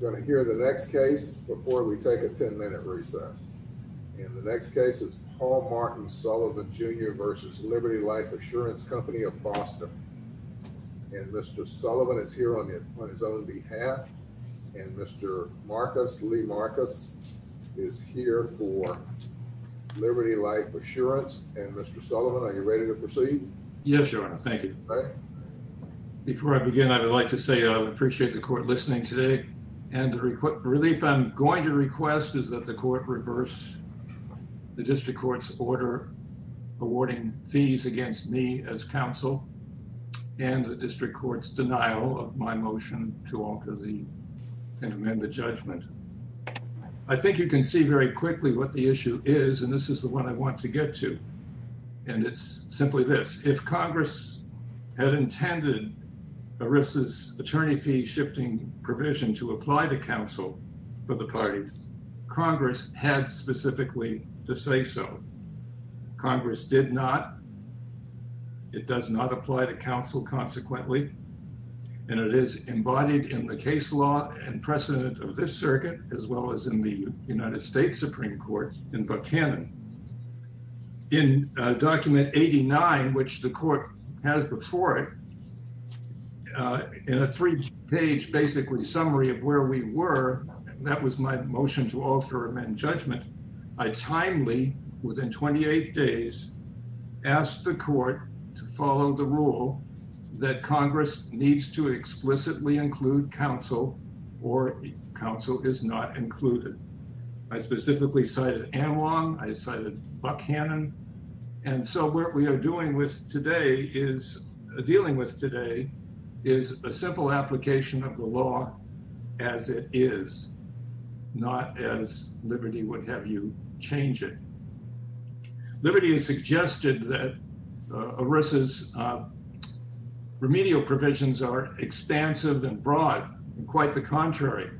You're going to hear the next case before we take a 10-minute recess, and the next case is Paul Martin Sullivan, Jr. v. Liberty Life Assurance Company of Boston, and Mr. Sullivan is here on his own behalf, and Mr. Lee Marcus is here for Liberty Life Assurance, and Mr. Sullivan, are you ready to proceed? Yes, Your Honor, thank you. Before I begin, I would like to say I appreciate the court listening today, and the relief I'm going to request is that the court reverse the district court's order awarding fees against me as counsel, and the district court's denial of my motion to alter the amended judgment. I think you can see very quickly what the issue is, and this is the one I want to get to, and it's simply this. If Congress had intended ERISA's attorney fee shifting provision to apply to counsel for the parties, Congress had specifically to say so. Congress did not. It does not apply to counsel, consequently, and it is embodied in the case law and precedent of this circuit, as well as in the United States Supreme Court in Buchanan. In document 89, which the court has before it, in a three-page basically summary of where we were, that was my motion to alter amend judgment, I timely, within 28 days, asked the court to follow the rule that Congress needs to explicitly include counsel or counsel is not included. I specifically cited Amlong, I cited Buchanan, and so what we are dealing with today is a simple application of the law as it is, not as Liberty would have you change it. Liberty has suggested that ERISA's remedial provisions are expansive and broad, and quite the contrary.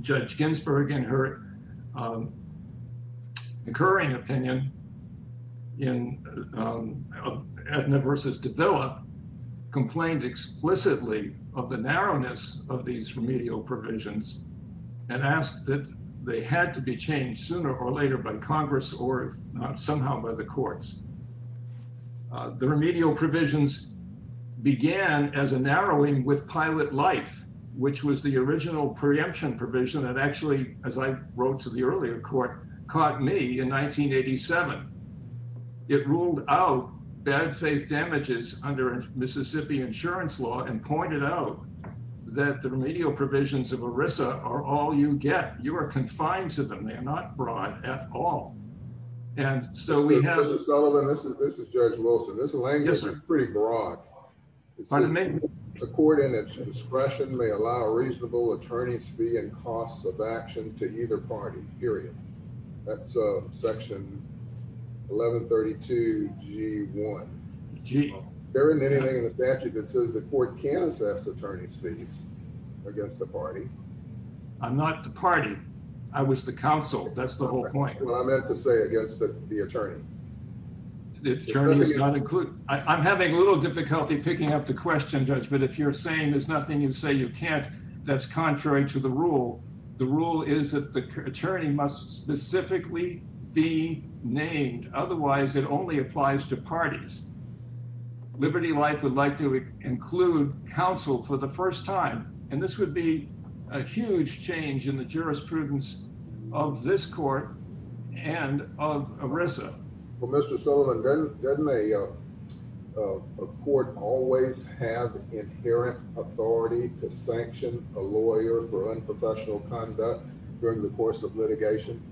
Judge Ginsburg, in her incurring opinion in Aetna v. Davila, complained explicitly of the narrowness of these remedial provisions and asked that they had to be changed sooner or later by Congress or somehow by the courts. The remedial provisions began as a narrowing with pilot life, which was the original preemption provision and actually, as I wrote to the earlier court, caught me in 1987. It ruled out bad faith damages under Mississippi insurance law and pointed out that the remedial provisions of ERISA are all you get. You are confined to them. They are not broad at all. And so we have… So this language is pretty broad. The court, in its discretion, may allow a reasonable attorney's fee and costs of action to either party, period. That's Section 1132G1. Is there anything in the statute that says the court can assess attorney's fees against the party? I'm not the party. I was the counsel. That's the whole point. Well, I meant to say against the attorney. I'm having a little difficulty picking up the question, Judge, but if you're saying there's nothing you say you can't, that's contrary to the rule. The rule is that the attorney must specifically be named. Otherwise, it only applies to parties. Liberty Life would like to include counsel for the first time, and this would be a huge change in the jurisprudence of this court and of ERISA. Well, Mr. Sullivan, doesn't a court always have inherent authority to sanction a lawyer for unprofessional conduct during the course of litigation?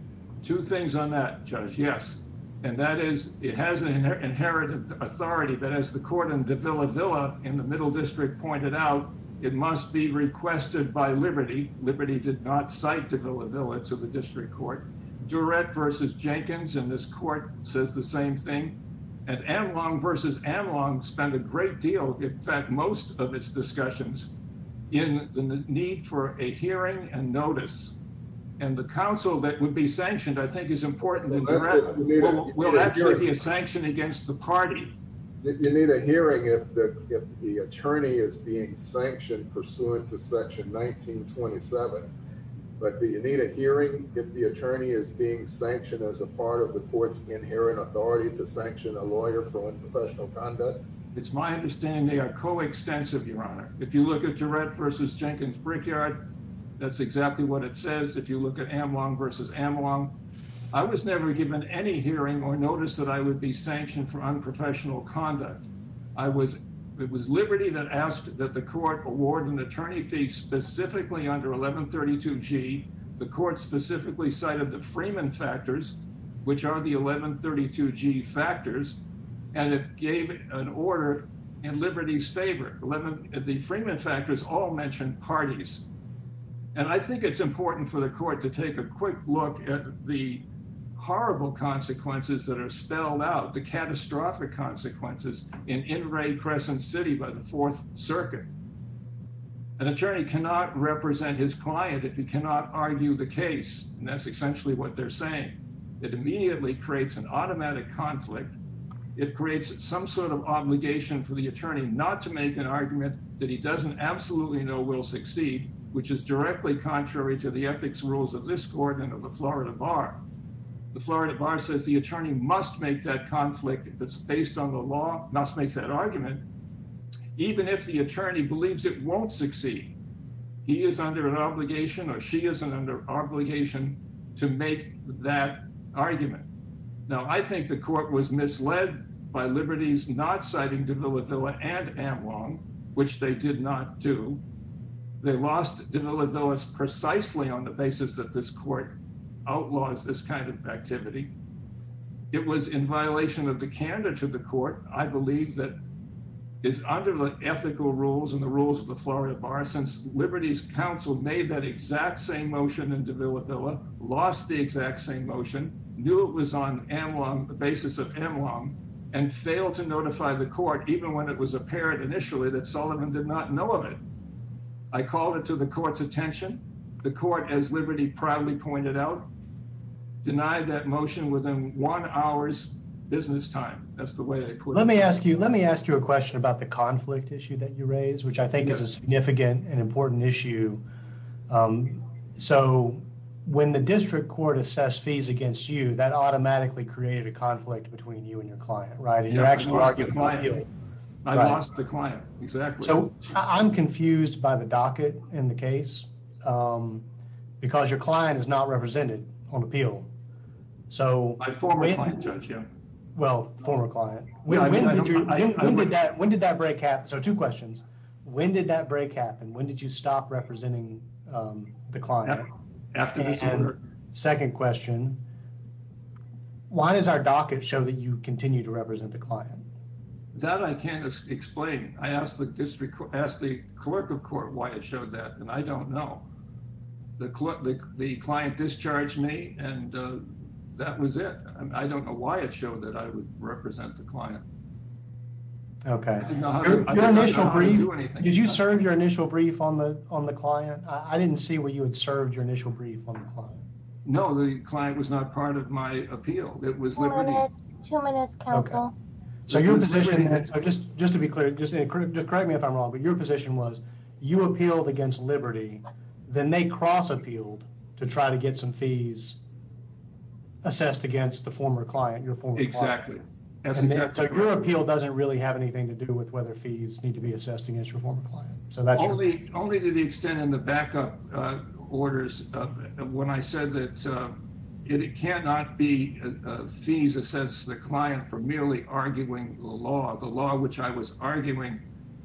Two things on that, Judge, yes. And that is it has an inherent authority, but as the court in Davila Villa in the Middle District pointed out, it must be requested by Liberty. Liberty did not cite Davila Villa to the district court. Durrett versus Jenkins in this court says the same thing. And Anlong versus Anlong spent a great deal, in fact, most of its discussions in the need for a hearing and notice. And the counsel that would be sanctioned, I think, is important. You need a hearing if the attorney is being sanctioned pursuant to Section 1927. But do you need a hearing if the attorney is being sanctioned as a part of the court's inherent authority to sanction a lawyer for unprofessional conduct? It's my understanding they are coextensive, Your Honor. If you look at Durrett versus Jenkins Brickyard, that's exactly what it says. If you look at Anlong versus Anlong, I was never given any hearing or notice that I would be sanctioned for unprofessional conduct. It was Liberty that asked that the court award an attorney fee specifically under 1132G. The court specifically cited the Freeman factors, which are the 1132G factors, and it gave an order in Liberty's favor. The Freeman factors all mentioned parties. And I think it's important for the court to take a quick look at the horrible consequences that are spelled out, the catastrophic consequences in In re Crescent City by the Fourth Circuit. An attorney cannot represent his client if he cannot argue the case. And that's essentially what they're saying. It immediately creates an automatic conflict. It creates some sort of obligation for the attorney not to make an argument that he doesn't absolutely know will succeed, which is directly contrary to the ethics rules of this court and of the Florida Bar. The Florida Bar says the attorney must make that conflict, if it's based on the law, must make that argument, even if the attorney believes it won't succeed. He is under an obligation or she is under obligation to make that argument. Now, I think the court was misled by Liberty's not citing Davila Villa and Amlong, which they did not do. They lost Davila Villa precisely on the basis that this court outlaws this kind of activity. It was in violation of the candor to the court, I believe, that is under the ethical rules and the rules of the Florida Bar, since Liberty's counsel made that exact same motion in Davila Villa, lost the exact same motion, knew it was on Amlong, the basis of Amlong, and failed to notify the court, even when it was apparent initially that Sullivan did not know of it. I called it to the court's attention. The court, as Liberty proudly pointed out, denied that motion within one hour's business time. That's the way I put it. I'm confused by the docket in the case, because your client is not represented on appeal. My former client, Judge, yeah. Well, former client. When did that break happen? Two questions. When did that break happen? When did you stop representing the client? After this order. Second question, why does our docket show that you continue to represent the client? That I can't explain. I asked the clerk of court why it showed that, and I don't know. The client discharged me, and that was it. I don't know why it showed that I would represent the client. Okay. I didn't know how to do anything. Did you serve your initial brief on the client? I didn't see where you had served your initial brief on the client. No, the client was not part of my appeal. It was Liberty. Two minutes, counsel. Just to be clear, just correct me if I'm wrong, but your position was you appealed against Liberty, then they cross-appealed to try to get some fees assessed against the former client, your former client. Exactly. So your appeal doesn't really have anything to do with whether fees need to be assessed against your former client. Only to the extent in the backup orders when I said that it cannot be fees assessed to the client for merely arguing the law. The law which I was arguing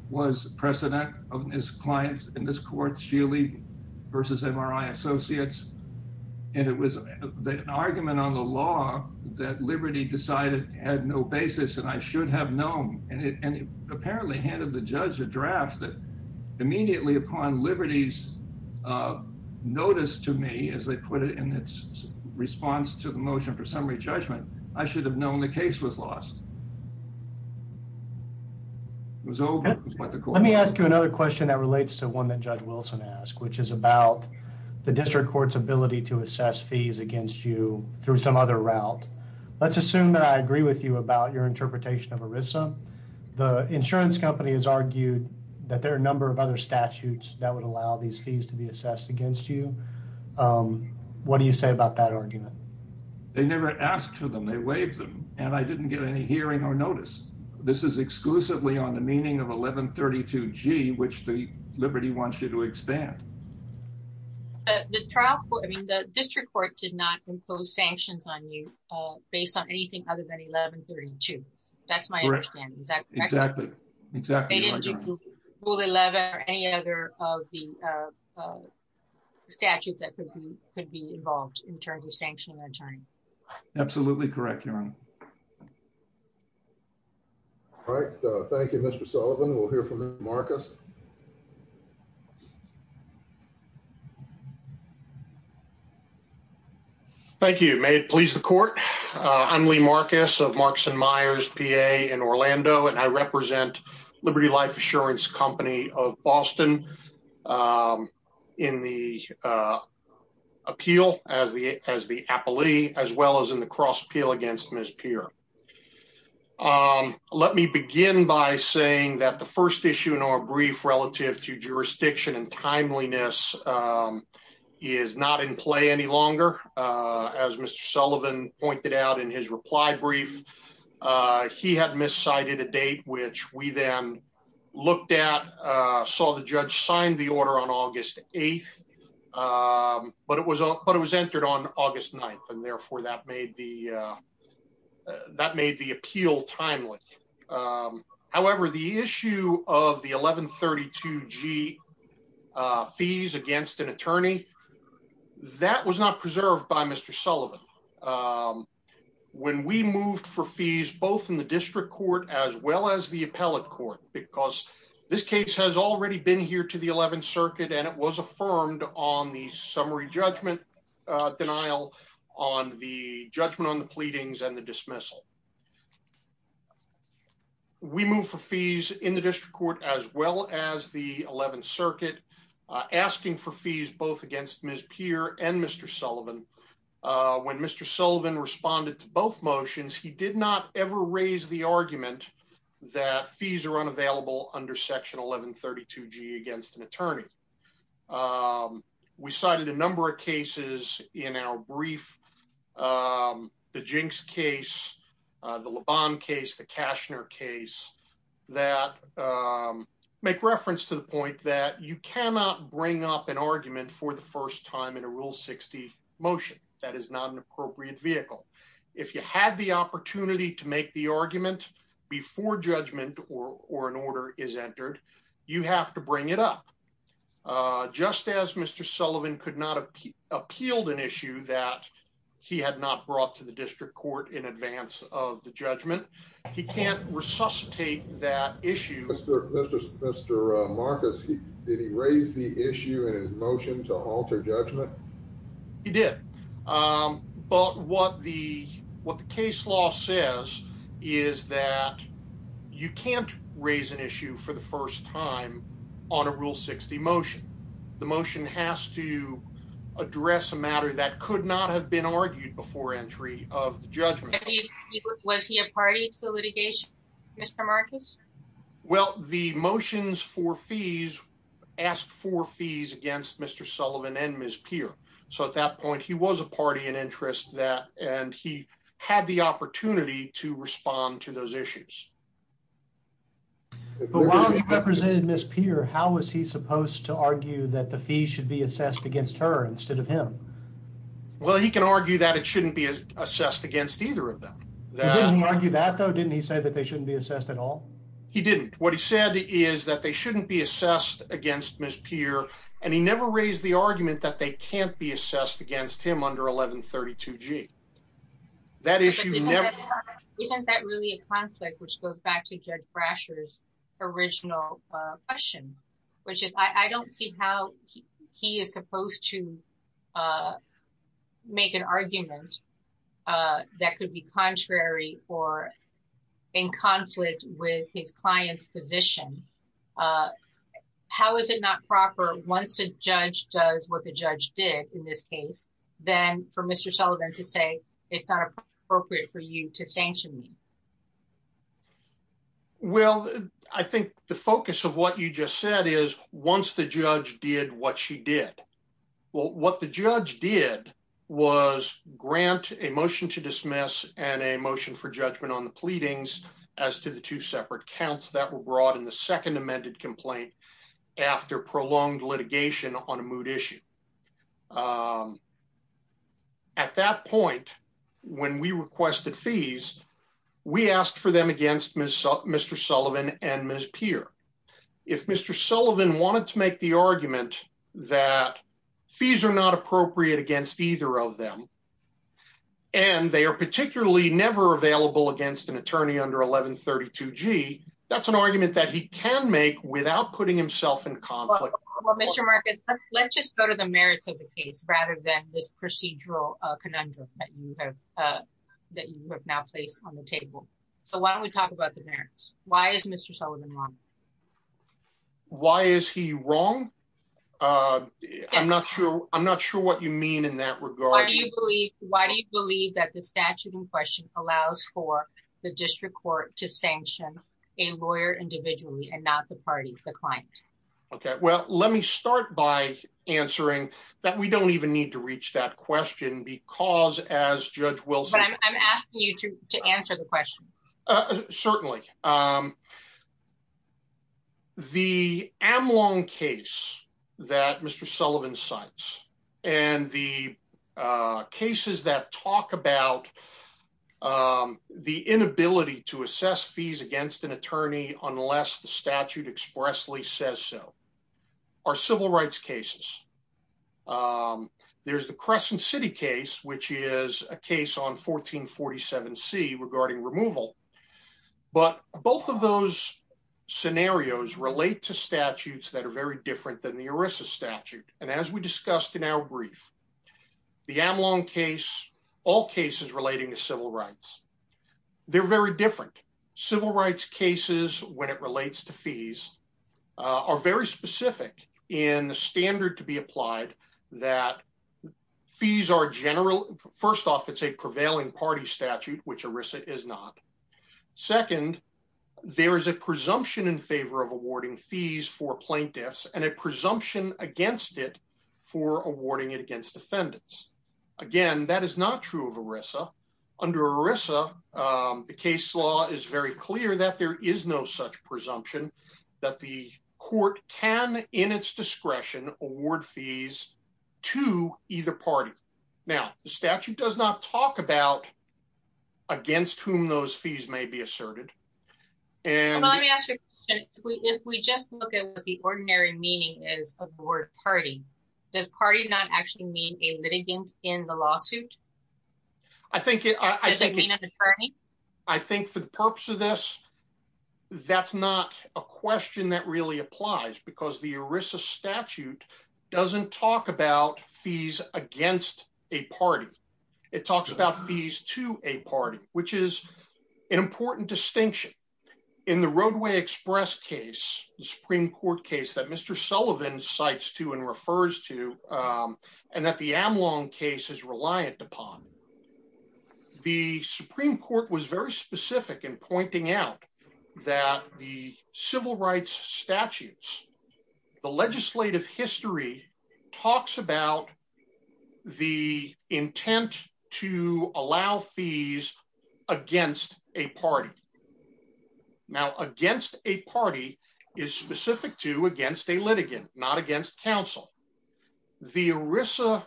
was precedent of this client in this court, Sheely versus MRI Associates. And it was an argument on the law that Liberty decided it had no basis and I should have known. And it apparently handed the judge a draft that immediately upon Liberty's notice to me, as they put it in its response to the motion for summary judgment, I should have known the case was lost. It was over. Let me ask you another question that relates to one that Judge Wilson asked, which is about the district court's ability to assess fees against you through some other route. Let's assume that I agree with you about your interpretation of ERISA. The insurance company has argued that there are a number of other statutes that would allow these fees to be assessed against you. They never asked for them, they waived them, and I didn't get any hearing or notice. This is exclusively on the meaning of 1132G, which Liberty wants you to expand. The district court did not impose sanctions on you based on anything other than 1132. That's my understanding. Exactly. They didn't include Rule 11 or any other of the statutes that could be involved in terms of sanctioning an attorney. Absolutely correct, Your Honor. All right. Thank you, Mr. Sullivan. We'll hear from Lee Marcus. Thank you. May it please the court. I'm Lee Marcus of Markson Myers, PA, in Orlando, and I represent Liberty Life Assurance Company of Boston in the appeal as the appellee, as well as in the cross appeal against Ms. Peer. Let me begin by saying that the first issue in our brief relative to jurisdiction and timeliness is not in play any longer. As Mr. Sullivan pointed out in his reply brief, he had miscited a date, which we then looked at, saw the judge sign the order on August 8th, but it was entered on August 9th, and therefore that made the appeal timely. However, the issue of the 1132 G fees against an attorney. That was not preserved by Mr. Sullivan. When we moved for fees, both in the district court, as well as the appellate court, because this case has already been here to the 11th Circuit and it was affirmed on the summary judgment denial on the judgment on the pleadings and the dismissal. We move for fees in the district court, as well as the 11th Circuit, asking for fees, both against Ms. Peer and Mr. Sullivan. When Mr. Sullivan responded to both motions, he did not ever raise the argument that fees are unavailable under Section 1132 G against an attorney. We cited a number of cases in our brief, the Jinx case, the Lebon case, the Cashner case, that make reference to the point that you cannot bring up an argument for the first time in a Rule 60 motion. That is not an appropriate vehicle. If you had the opportunity to make the argument before judgment or an order is entered, you have to bring it up. Just as Mr. Sullivan could not have appealed an issue that he had not brought to the district court in advance of the judgment, he can't resuscitate that issue. Mr. Marcus, did he raise the issue in his motion to alter judgment? He did. But what the case law says is that you can't raise an issue for the first time on a Rule 60 motion. The motion has to address a matter that could not have been argued before entry of the judgment. Was he a party to the litigation, Mr. Marcus? Well, the motions for fees asked for fees against Mr. Sullivan and Ms. Peer. So at that point, he was a party in interest and he had the opportunity to respond to those issues. But while he represented Ms. Peer, how was he supposed to argue that the fees should be assessed against her instead of him? Well, he can argue that it shouldn't be assessed against either of them. He didn't argue that though, didn't he say that they shouldn't be assessed at all? He didn't. What he said is that they shouldn't be assessed against Ms. Peer and he never raised the argument that they can't be assessed against him under 1132G. Isn't that really a conflict which goes back to Judge Brasher's original question, which is I don't see how he is supposed to make an argument that could be contrary or in conflict with his client's position. How is it not proper once a judge does what the judge did in this case, then for Mr. Sullivan to say it's not appropriate for you to sanction me? Well, I think the focus of what you just said is once the judge did what she did. Well, what the judge did was grant a motion to dismiss and a motion for judgment on the pleadings as to the two separate counts that were brought in the second amended complaint after prolonged litigation on a mood issue. At that point, when we requested fees, we asked for them against Mr. Sullivan and Ms. Peer. If Mr. Sullivan wanted to make the argument that fees are not appropriate against either of them and they are particularly never available against an attorney under 1132G, that's an argument that he can make without putting himself in conflict. Well, Mr. Marcus, let's just go to the merits of the case rather than this procedural conundrum that you have now placed on the table. So why don't we talk about the merits? Why is Mr. Sullivan wrong? Why is he wrong? I'm not sure what you mean in that regard. Why do you believe that the statute in question allows for the district court to sanction a lawyer individually and not the party, the client? OK, well, let me start by answering that. We don't even need to reach that question because, as Judge Wilson, I'm asking you to answer the question. Certainly. The Amlong case that Mr. Sullivan cites and the cases that talk about the inability to assess fees against an attorney unless the statute expressly says so are civil rights cases. There's the Crescent City case, which is a case on 1447C regarding removal. But both of those scenarios relate to statutes that are very different than the ERISA statute. And as we discussed in our brief, the Amlong case, all cases relating to civil rights, they're very different. Civil rights cases when it relates to fees are very specific in the standard to be applied that fees are general. First off, it's a prevailing party statute, which ERISA is not. Second, there is a presumption in favor of awarding fees for plaintiffs and a presumption against it for awarding it against defendants. Again, that is not true of ERISA. Under ERISA, the case law is very clear that there is no such presumption that the court can, in its discretion, award fees to either party. Now, the statute does not talk about against whom those fees may be asserted. Let me ask you a question. If we just look at what the ordinary meaning is of the word party, does party not actually mean a litigant in the lawsuit? Does it mean an attorney? I think for the purpose of this, that's not a question that really applies because the ERISA statute doesn't talk about fees against a party. It talks about fees to a party, which is an important distinction. In the Roadway Express case, the Supreme Court case that Mr. Sullivan cites to and refers to, and that the Amlong case is reliant upon. The Supreme Court was very specific in pointing out that the civil rights statutes, the legislative history, talks about the intent to allow fees against a party. Now, against a party is specific to against a litigant, not against counsel. The ERISA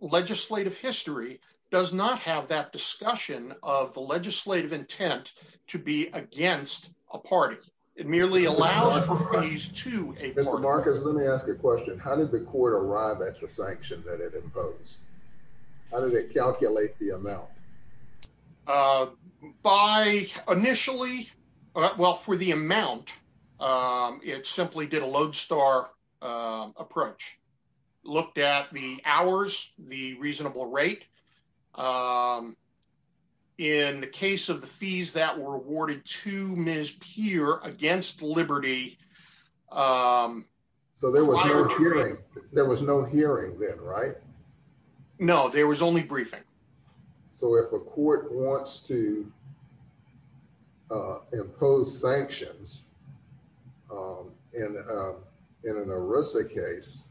legislative history does not have that discussion of the legislative intent to be against a party. It merely allows for fees to a party. Mr. Marcus, let me ask you a question. How did the court arrive at the sanction that it imposed? How did it calculate the amount? By initially, well, for the amount, it simply did a lodestar approach, looked at the hours, the reasonable rate. In the case of the fees that were awarded to Ms. Peer against Liberty. So there was no hearing. There was no hearing then, right? No, there was only briefing. So if a court wants to impose sanctions in an ERISA case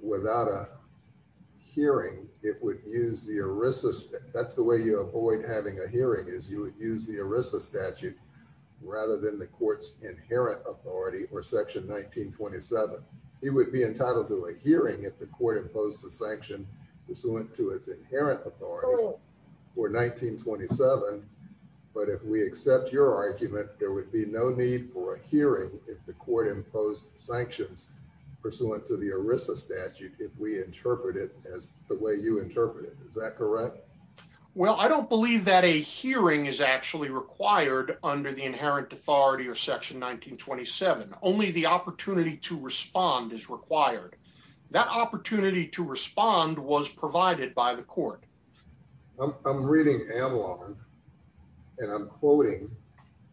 without a hearing, it would use the ERISA statute. But if we accept your argument, there would be no need for a hearing. If the court imposed sanctions pursuant to the ERISA statute, if we interpret it as the way you interpret it, is that correct? Well, I don't believe that a hearing is actually required under the inherent authority of Section 1927. Only the opportunity to respond is required. That opportunity to respond was provided by the court. I'm reading Amlong, and I'm quoting,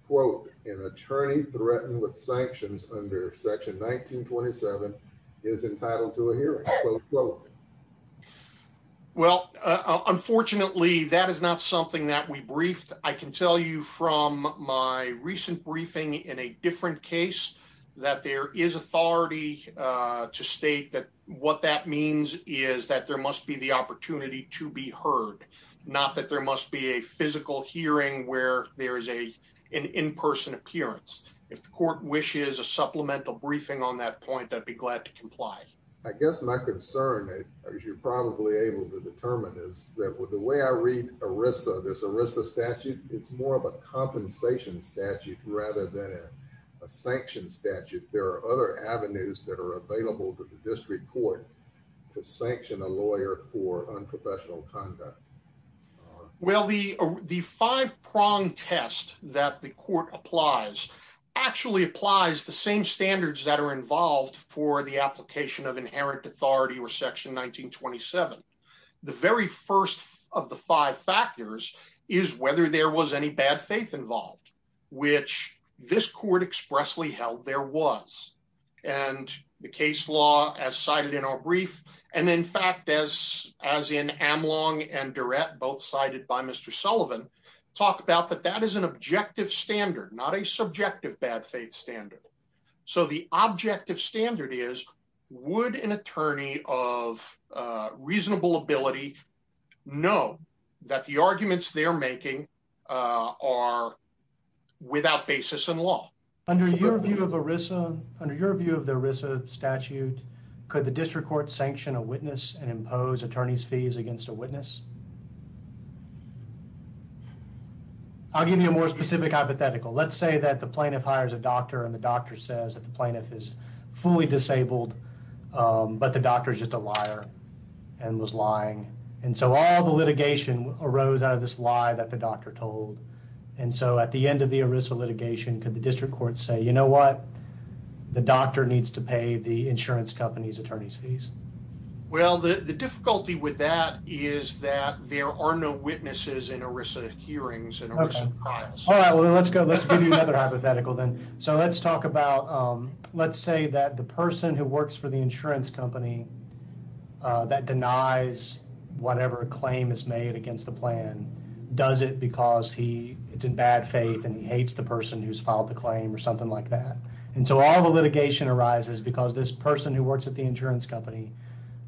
quote, an attorney threatened with sanctions under Section 1927 is entitled to a hearing, quote, quote. Well, unfortunately, that is not something that we briefed. I can tell you from my recent briefing in a different case that there is authority to state that what that means is that there must be the opportunity to be heard. Not that there must be a physical hearing where there is an in-person appearance. If the court wishes a supplemental briefing on that point, I'd be glad to comply. I guess my concern, as you're probably able to determine, is that the way I read ERISA, this ERISA statute, it's more of a compensation statute rather than a sanction statute. There are other avenues that are available to the district court to sanction a lawyer for unprofessional conduct. Well, the five-prong test that the court applies actually applies the same standards that are involved for the application of inherent authority or Section 1927. The very first of the five factors is whether there was any bad faith involved, which this court expressly held there was. And the case law, as cited in our brief, and in fact, as in Amlong and Durrett, both cited by Mr. Sullivan, talk about that that is an objective standard, not a subjective bad faith standard. So the objective standard is, would an attorney of reasonable ability know that the arguments they're making are without basis in law? Under your view of ERISA, under your view of the ERISA statute, could the district court sanction a witness and impose attorney's fees against a witness? I'll give you a more specific hypothetical. Let's say that the plaintiff hires a doctor and the doctor says that the plaintiff is fully disabled, but the doctor is just a liar and was lying. And so all the litigation arose out of this lie that the doctor told. And so at the end of the ERISA litigation, could the district court say, you know what, the doctor needs to pay the insurance company's attorney's fees? Well, the difficulty with that is that there are no witnesses in ERISA hearings and ERISA trials. All right, well, let's go. Let's give you another hypothetical then. So let's talk about, let's say that the person who works for the insurance company that denies whatever claim is made against the plan does it because it's in bad faith and he hates the person who's filed the claim or something like that. And so all the litigation arises because this person who works at the insurance company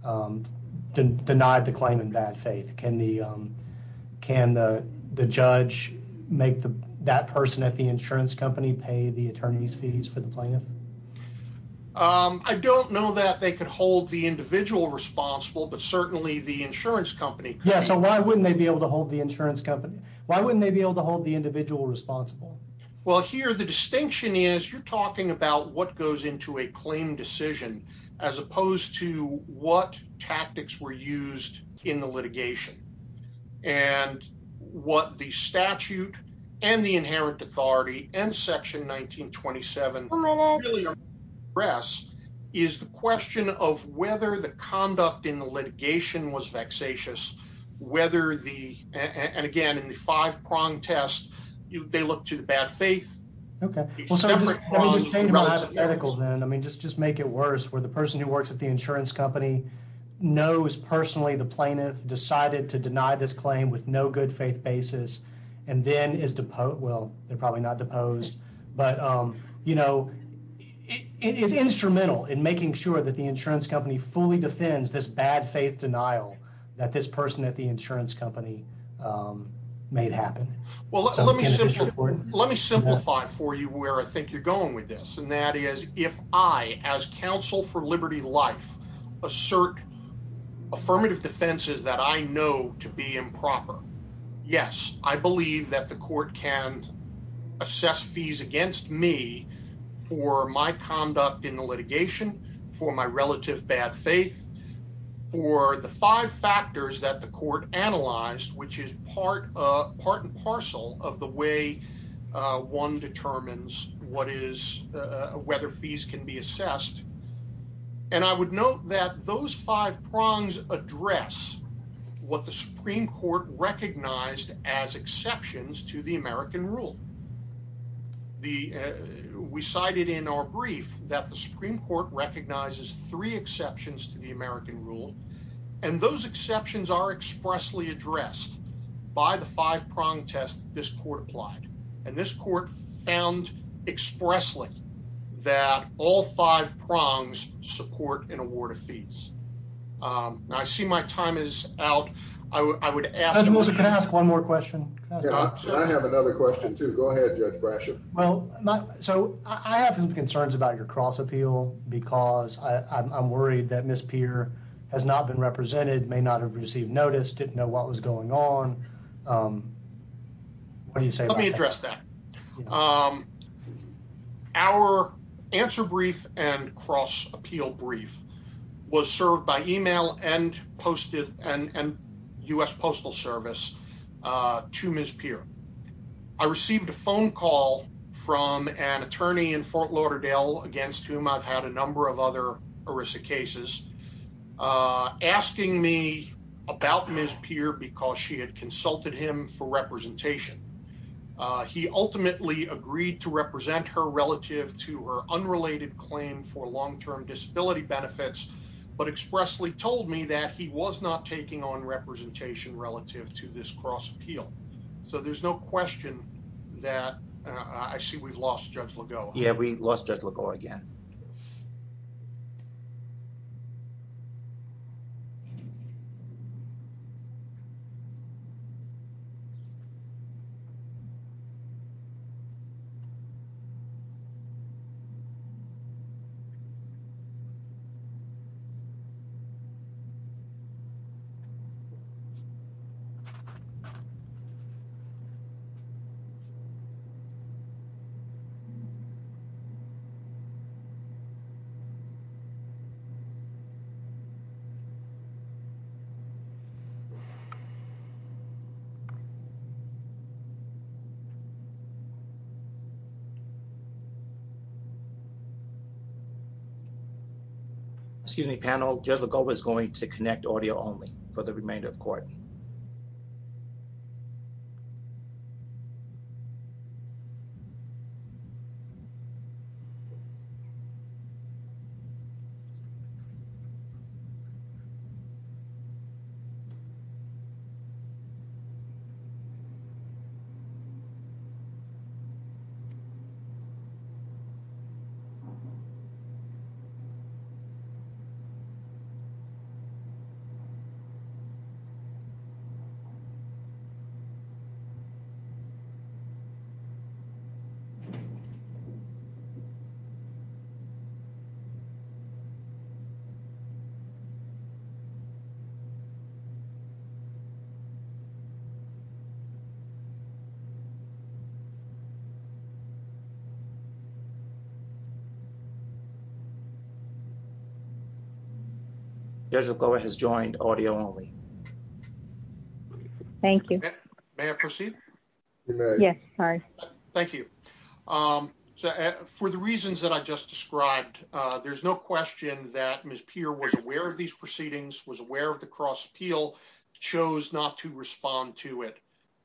denied the claim in bad faith. Can the judge make that person at the insurance company pay the attorney's fees for the plaintiff? I don't know that they could hold the individual responsible, but certainly the insurance company could. Yeah, so why wouldn't they be able to hold the insurance company? Why wouldn't they be able to hold the individual responsible? Well, here the distinction is you're talking about what goes into a claim decision as opposed to what tactics were used in the litigation. And what the statute and the inherent authority and section 1927 really address is the question of whether the conduct in the litigation was vexatious. Whether the, and again, in the five prong test, they look to the bad faith. Okay, well, let me just make it worse where the person who works at the insurance company knows personally the plaintiff decided to deny this claim with no good faith basis. And then is deposed. Well, they're probably not deposed, but it's instrumental in making sure that the insurance company fully defends this bad faith denial that this person at the insurance company made happen. Well, let me simplify for you where I think you're going with this. And that is if I as counsel for liberty life assert affirmative defenses that I know to be improper. Yes, I believe that the court can assess fees against me for my conduct in the litigation for my relative bad faith for the five factors that the court analyzed which is part, part and parcel of the way. One determines what is whether fees can be assessed. And I would note that those five prongs address what the Supreme Court recognized as exceptions to the American rule. The. We cited in our brief that the Supreme Court recognizes three exceptions to the American rule. And those exceptions are expressly addressed by the five prong test, this court applied, and this court found expressly that all five prongs support an award of fees. I see my time is out. I would ask one more question. I have another question to go ahead, Judge Brashen. Well, so I have some concerns about your cross appeal because I'm worried that Miss Peer has not been represented, may not have received notice, didn't know what was going on. Let me address that. Our answer brief and cross appeal brief was served by email and posted and US Postal Service to Miss Peer. I received a phone call from an attorney in Fort Lauderdale against whom I've had a number of other Arisa cases, asking me about Miss Peer because she had consulted him for representation. He ultimately agreed to represent her relative to her unrelated claim for long term disability benefits, but expressly told me that he was not taking on representation relative to this cross appeal. So there's no question that I see we've lost Judge Lagoa. Yeah, we lost Judge Lagoa again. Excuse me, panel. Judge Lagoa is going to connect audio only for the remainder of court. Thank you. Judge Lagoa has joined audio only. Thank you. May I proceed? Yes. All right. Thank you. For the reasons that I just described, there's no question that Miss Peer was aware of these proceedings, was aware of the cross appeal, chose not to respond to it.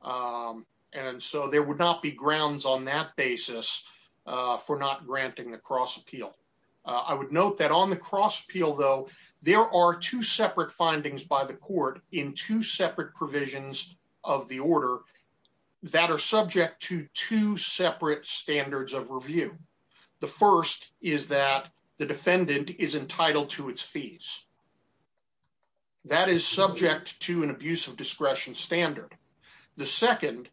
And so there would not be grounds on that basis for not granting the cross appeal. I would note that on the cross appeal, though, there are two separate findings by the court in two separate provisions of the order that are subject to two separate standards of review. The first is that the defendant is entitled to its fees. That is subject to an abuse of discretion standard. The second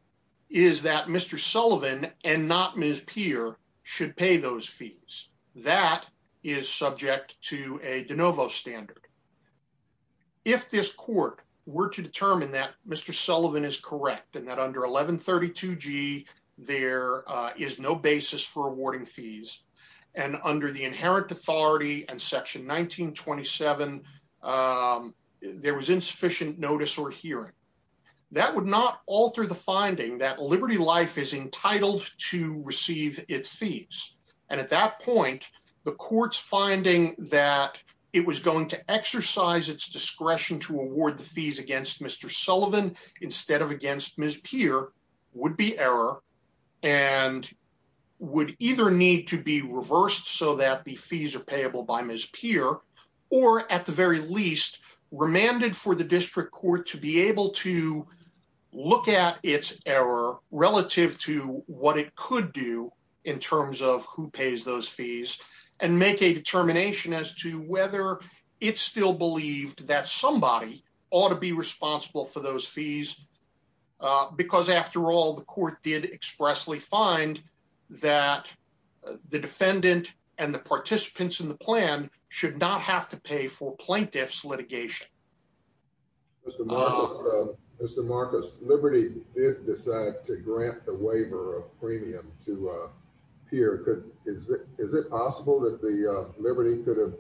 is that Mr. Sullivan and not Miss Peer should pay those fees. That is subject to a de novo standard. If this court were to determine that Mr. Sullivan is correct and that under 1132 G, there is no basis for awarding fees and under the inherent authority and section 1927, there was insufficient notice or hearing. That would not alter the finding that Liberty Life is entitled to receive its fees. And at that point, the court's finding that it was going to exercise its discretion to award the fees against Mr. Sullivan, instead of against Miss Peer would be error and would either need to be reversed so that the fees are payable by Miss Peer, or at the very least, remanded for the district court to be able to look at its error relative to what it could do in terms of who would pay the fees. Who pays those fees and make a determination as to whether it's still believed that somebody ought to be responsible for those fees. Because after all, the court did expressly find that the defendant and the participants in the plan should not have to pay for plaintiffs litigation. Mr. Marcus, Liberty did decide to grant the waiver of premium to Peer. Is it possible that Liberty could have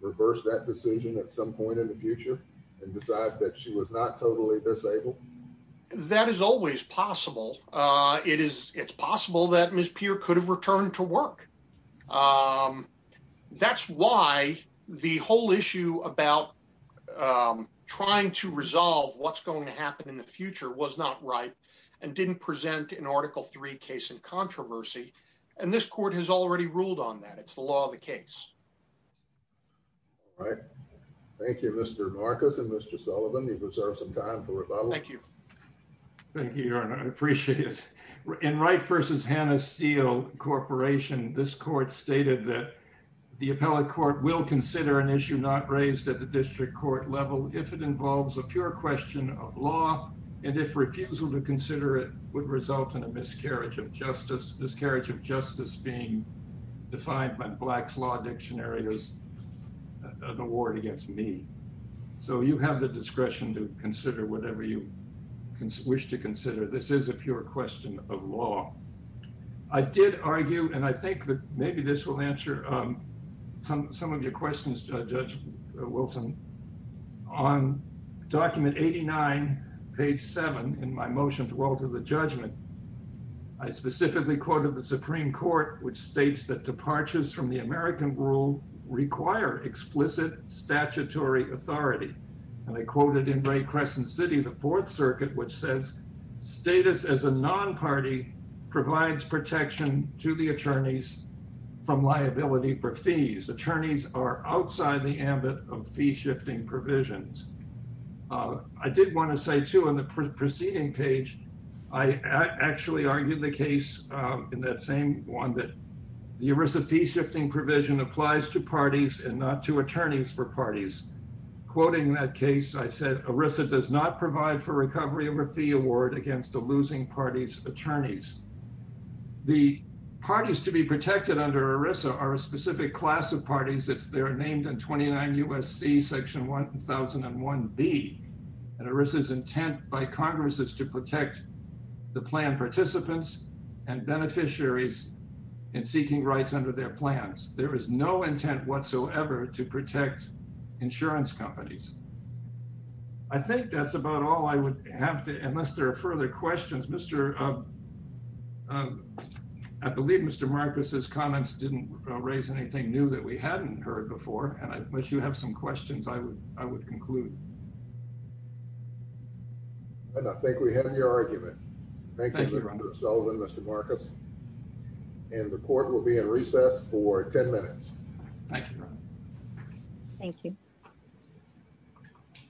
reversed that decision at some point in the future and decide that she was not totally disabled? That is always possible. It is it's possible that Miss Peer could have returned to work. That's why the whole issue about trying to resolve what's going to happen in the future was not right and didn't present an article three case in controversy. And this court has already ruled on that. It's the law of the case. All right. Thank you, Mr. Marcus and Mr. Sullivan. You've reserved some time for rebuttal. Thank you. Thank you. I appreciate it. In Wright versus Hannah Steel Corporation, this court stated that the appellate court will consider an issue not raised at the district court level if it involves a pure question of law. And if refusal to consider it would result in a miscarriage of justice, miscarriage of justice being defined by Black's Law Dictionary as an award against me. So you have the discretion to consider whatever you wish to consider. This is a pure question of law. I did argue, and I think that maybe this will answer some of your questions, Judge Wilson. On document 89 page 7 in my motion to alter the judgment, I specifically quoted the Supreme Court, which states that departures from the American rule require explicit statutory authority. And I quoted in Ray Crescent City, the Fourth Circuit, which says status as a non-party provides protection to the attorneys from liability for fees. Attorneys are outside the ambit of fee shifting provisions. I did want to say, too, on the preceding page, I actually argued the case in that same one that the ERISA fee shifting provision applies to parties and not to attorneys for parties. Quoting that case, I said ERISA does not provide for recovery of a fee award against the losing party's attorneys. The parties to be protected under ERISA are a specific class of parties that are named in 29 U.S.C. section 1001B. And ERISA's intent by Congress is to protect the plan participants and beneficiaries in seeking rights under their plans. There is no intent whatsoever to protect insurance companies. I think that's about all I would have to, unless there are further questions, Mr. I believe Mr. Marcus's comments didn't raise anything new that we hadn't heard before. And I wish you have some questions I would I would conclude. And I think we have your argument. Thank you, Mr. Marcus. And the court will be in recess for 10 minutes. Thank you. Thank you. Thank you.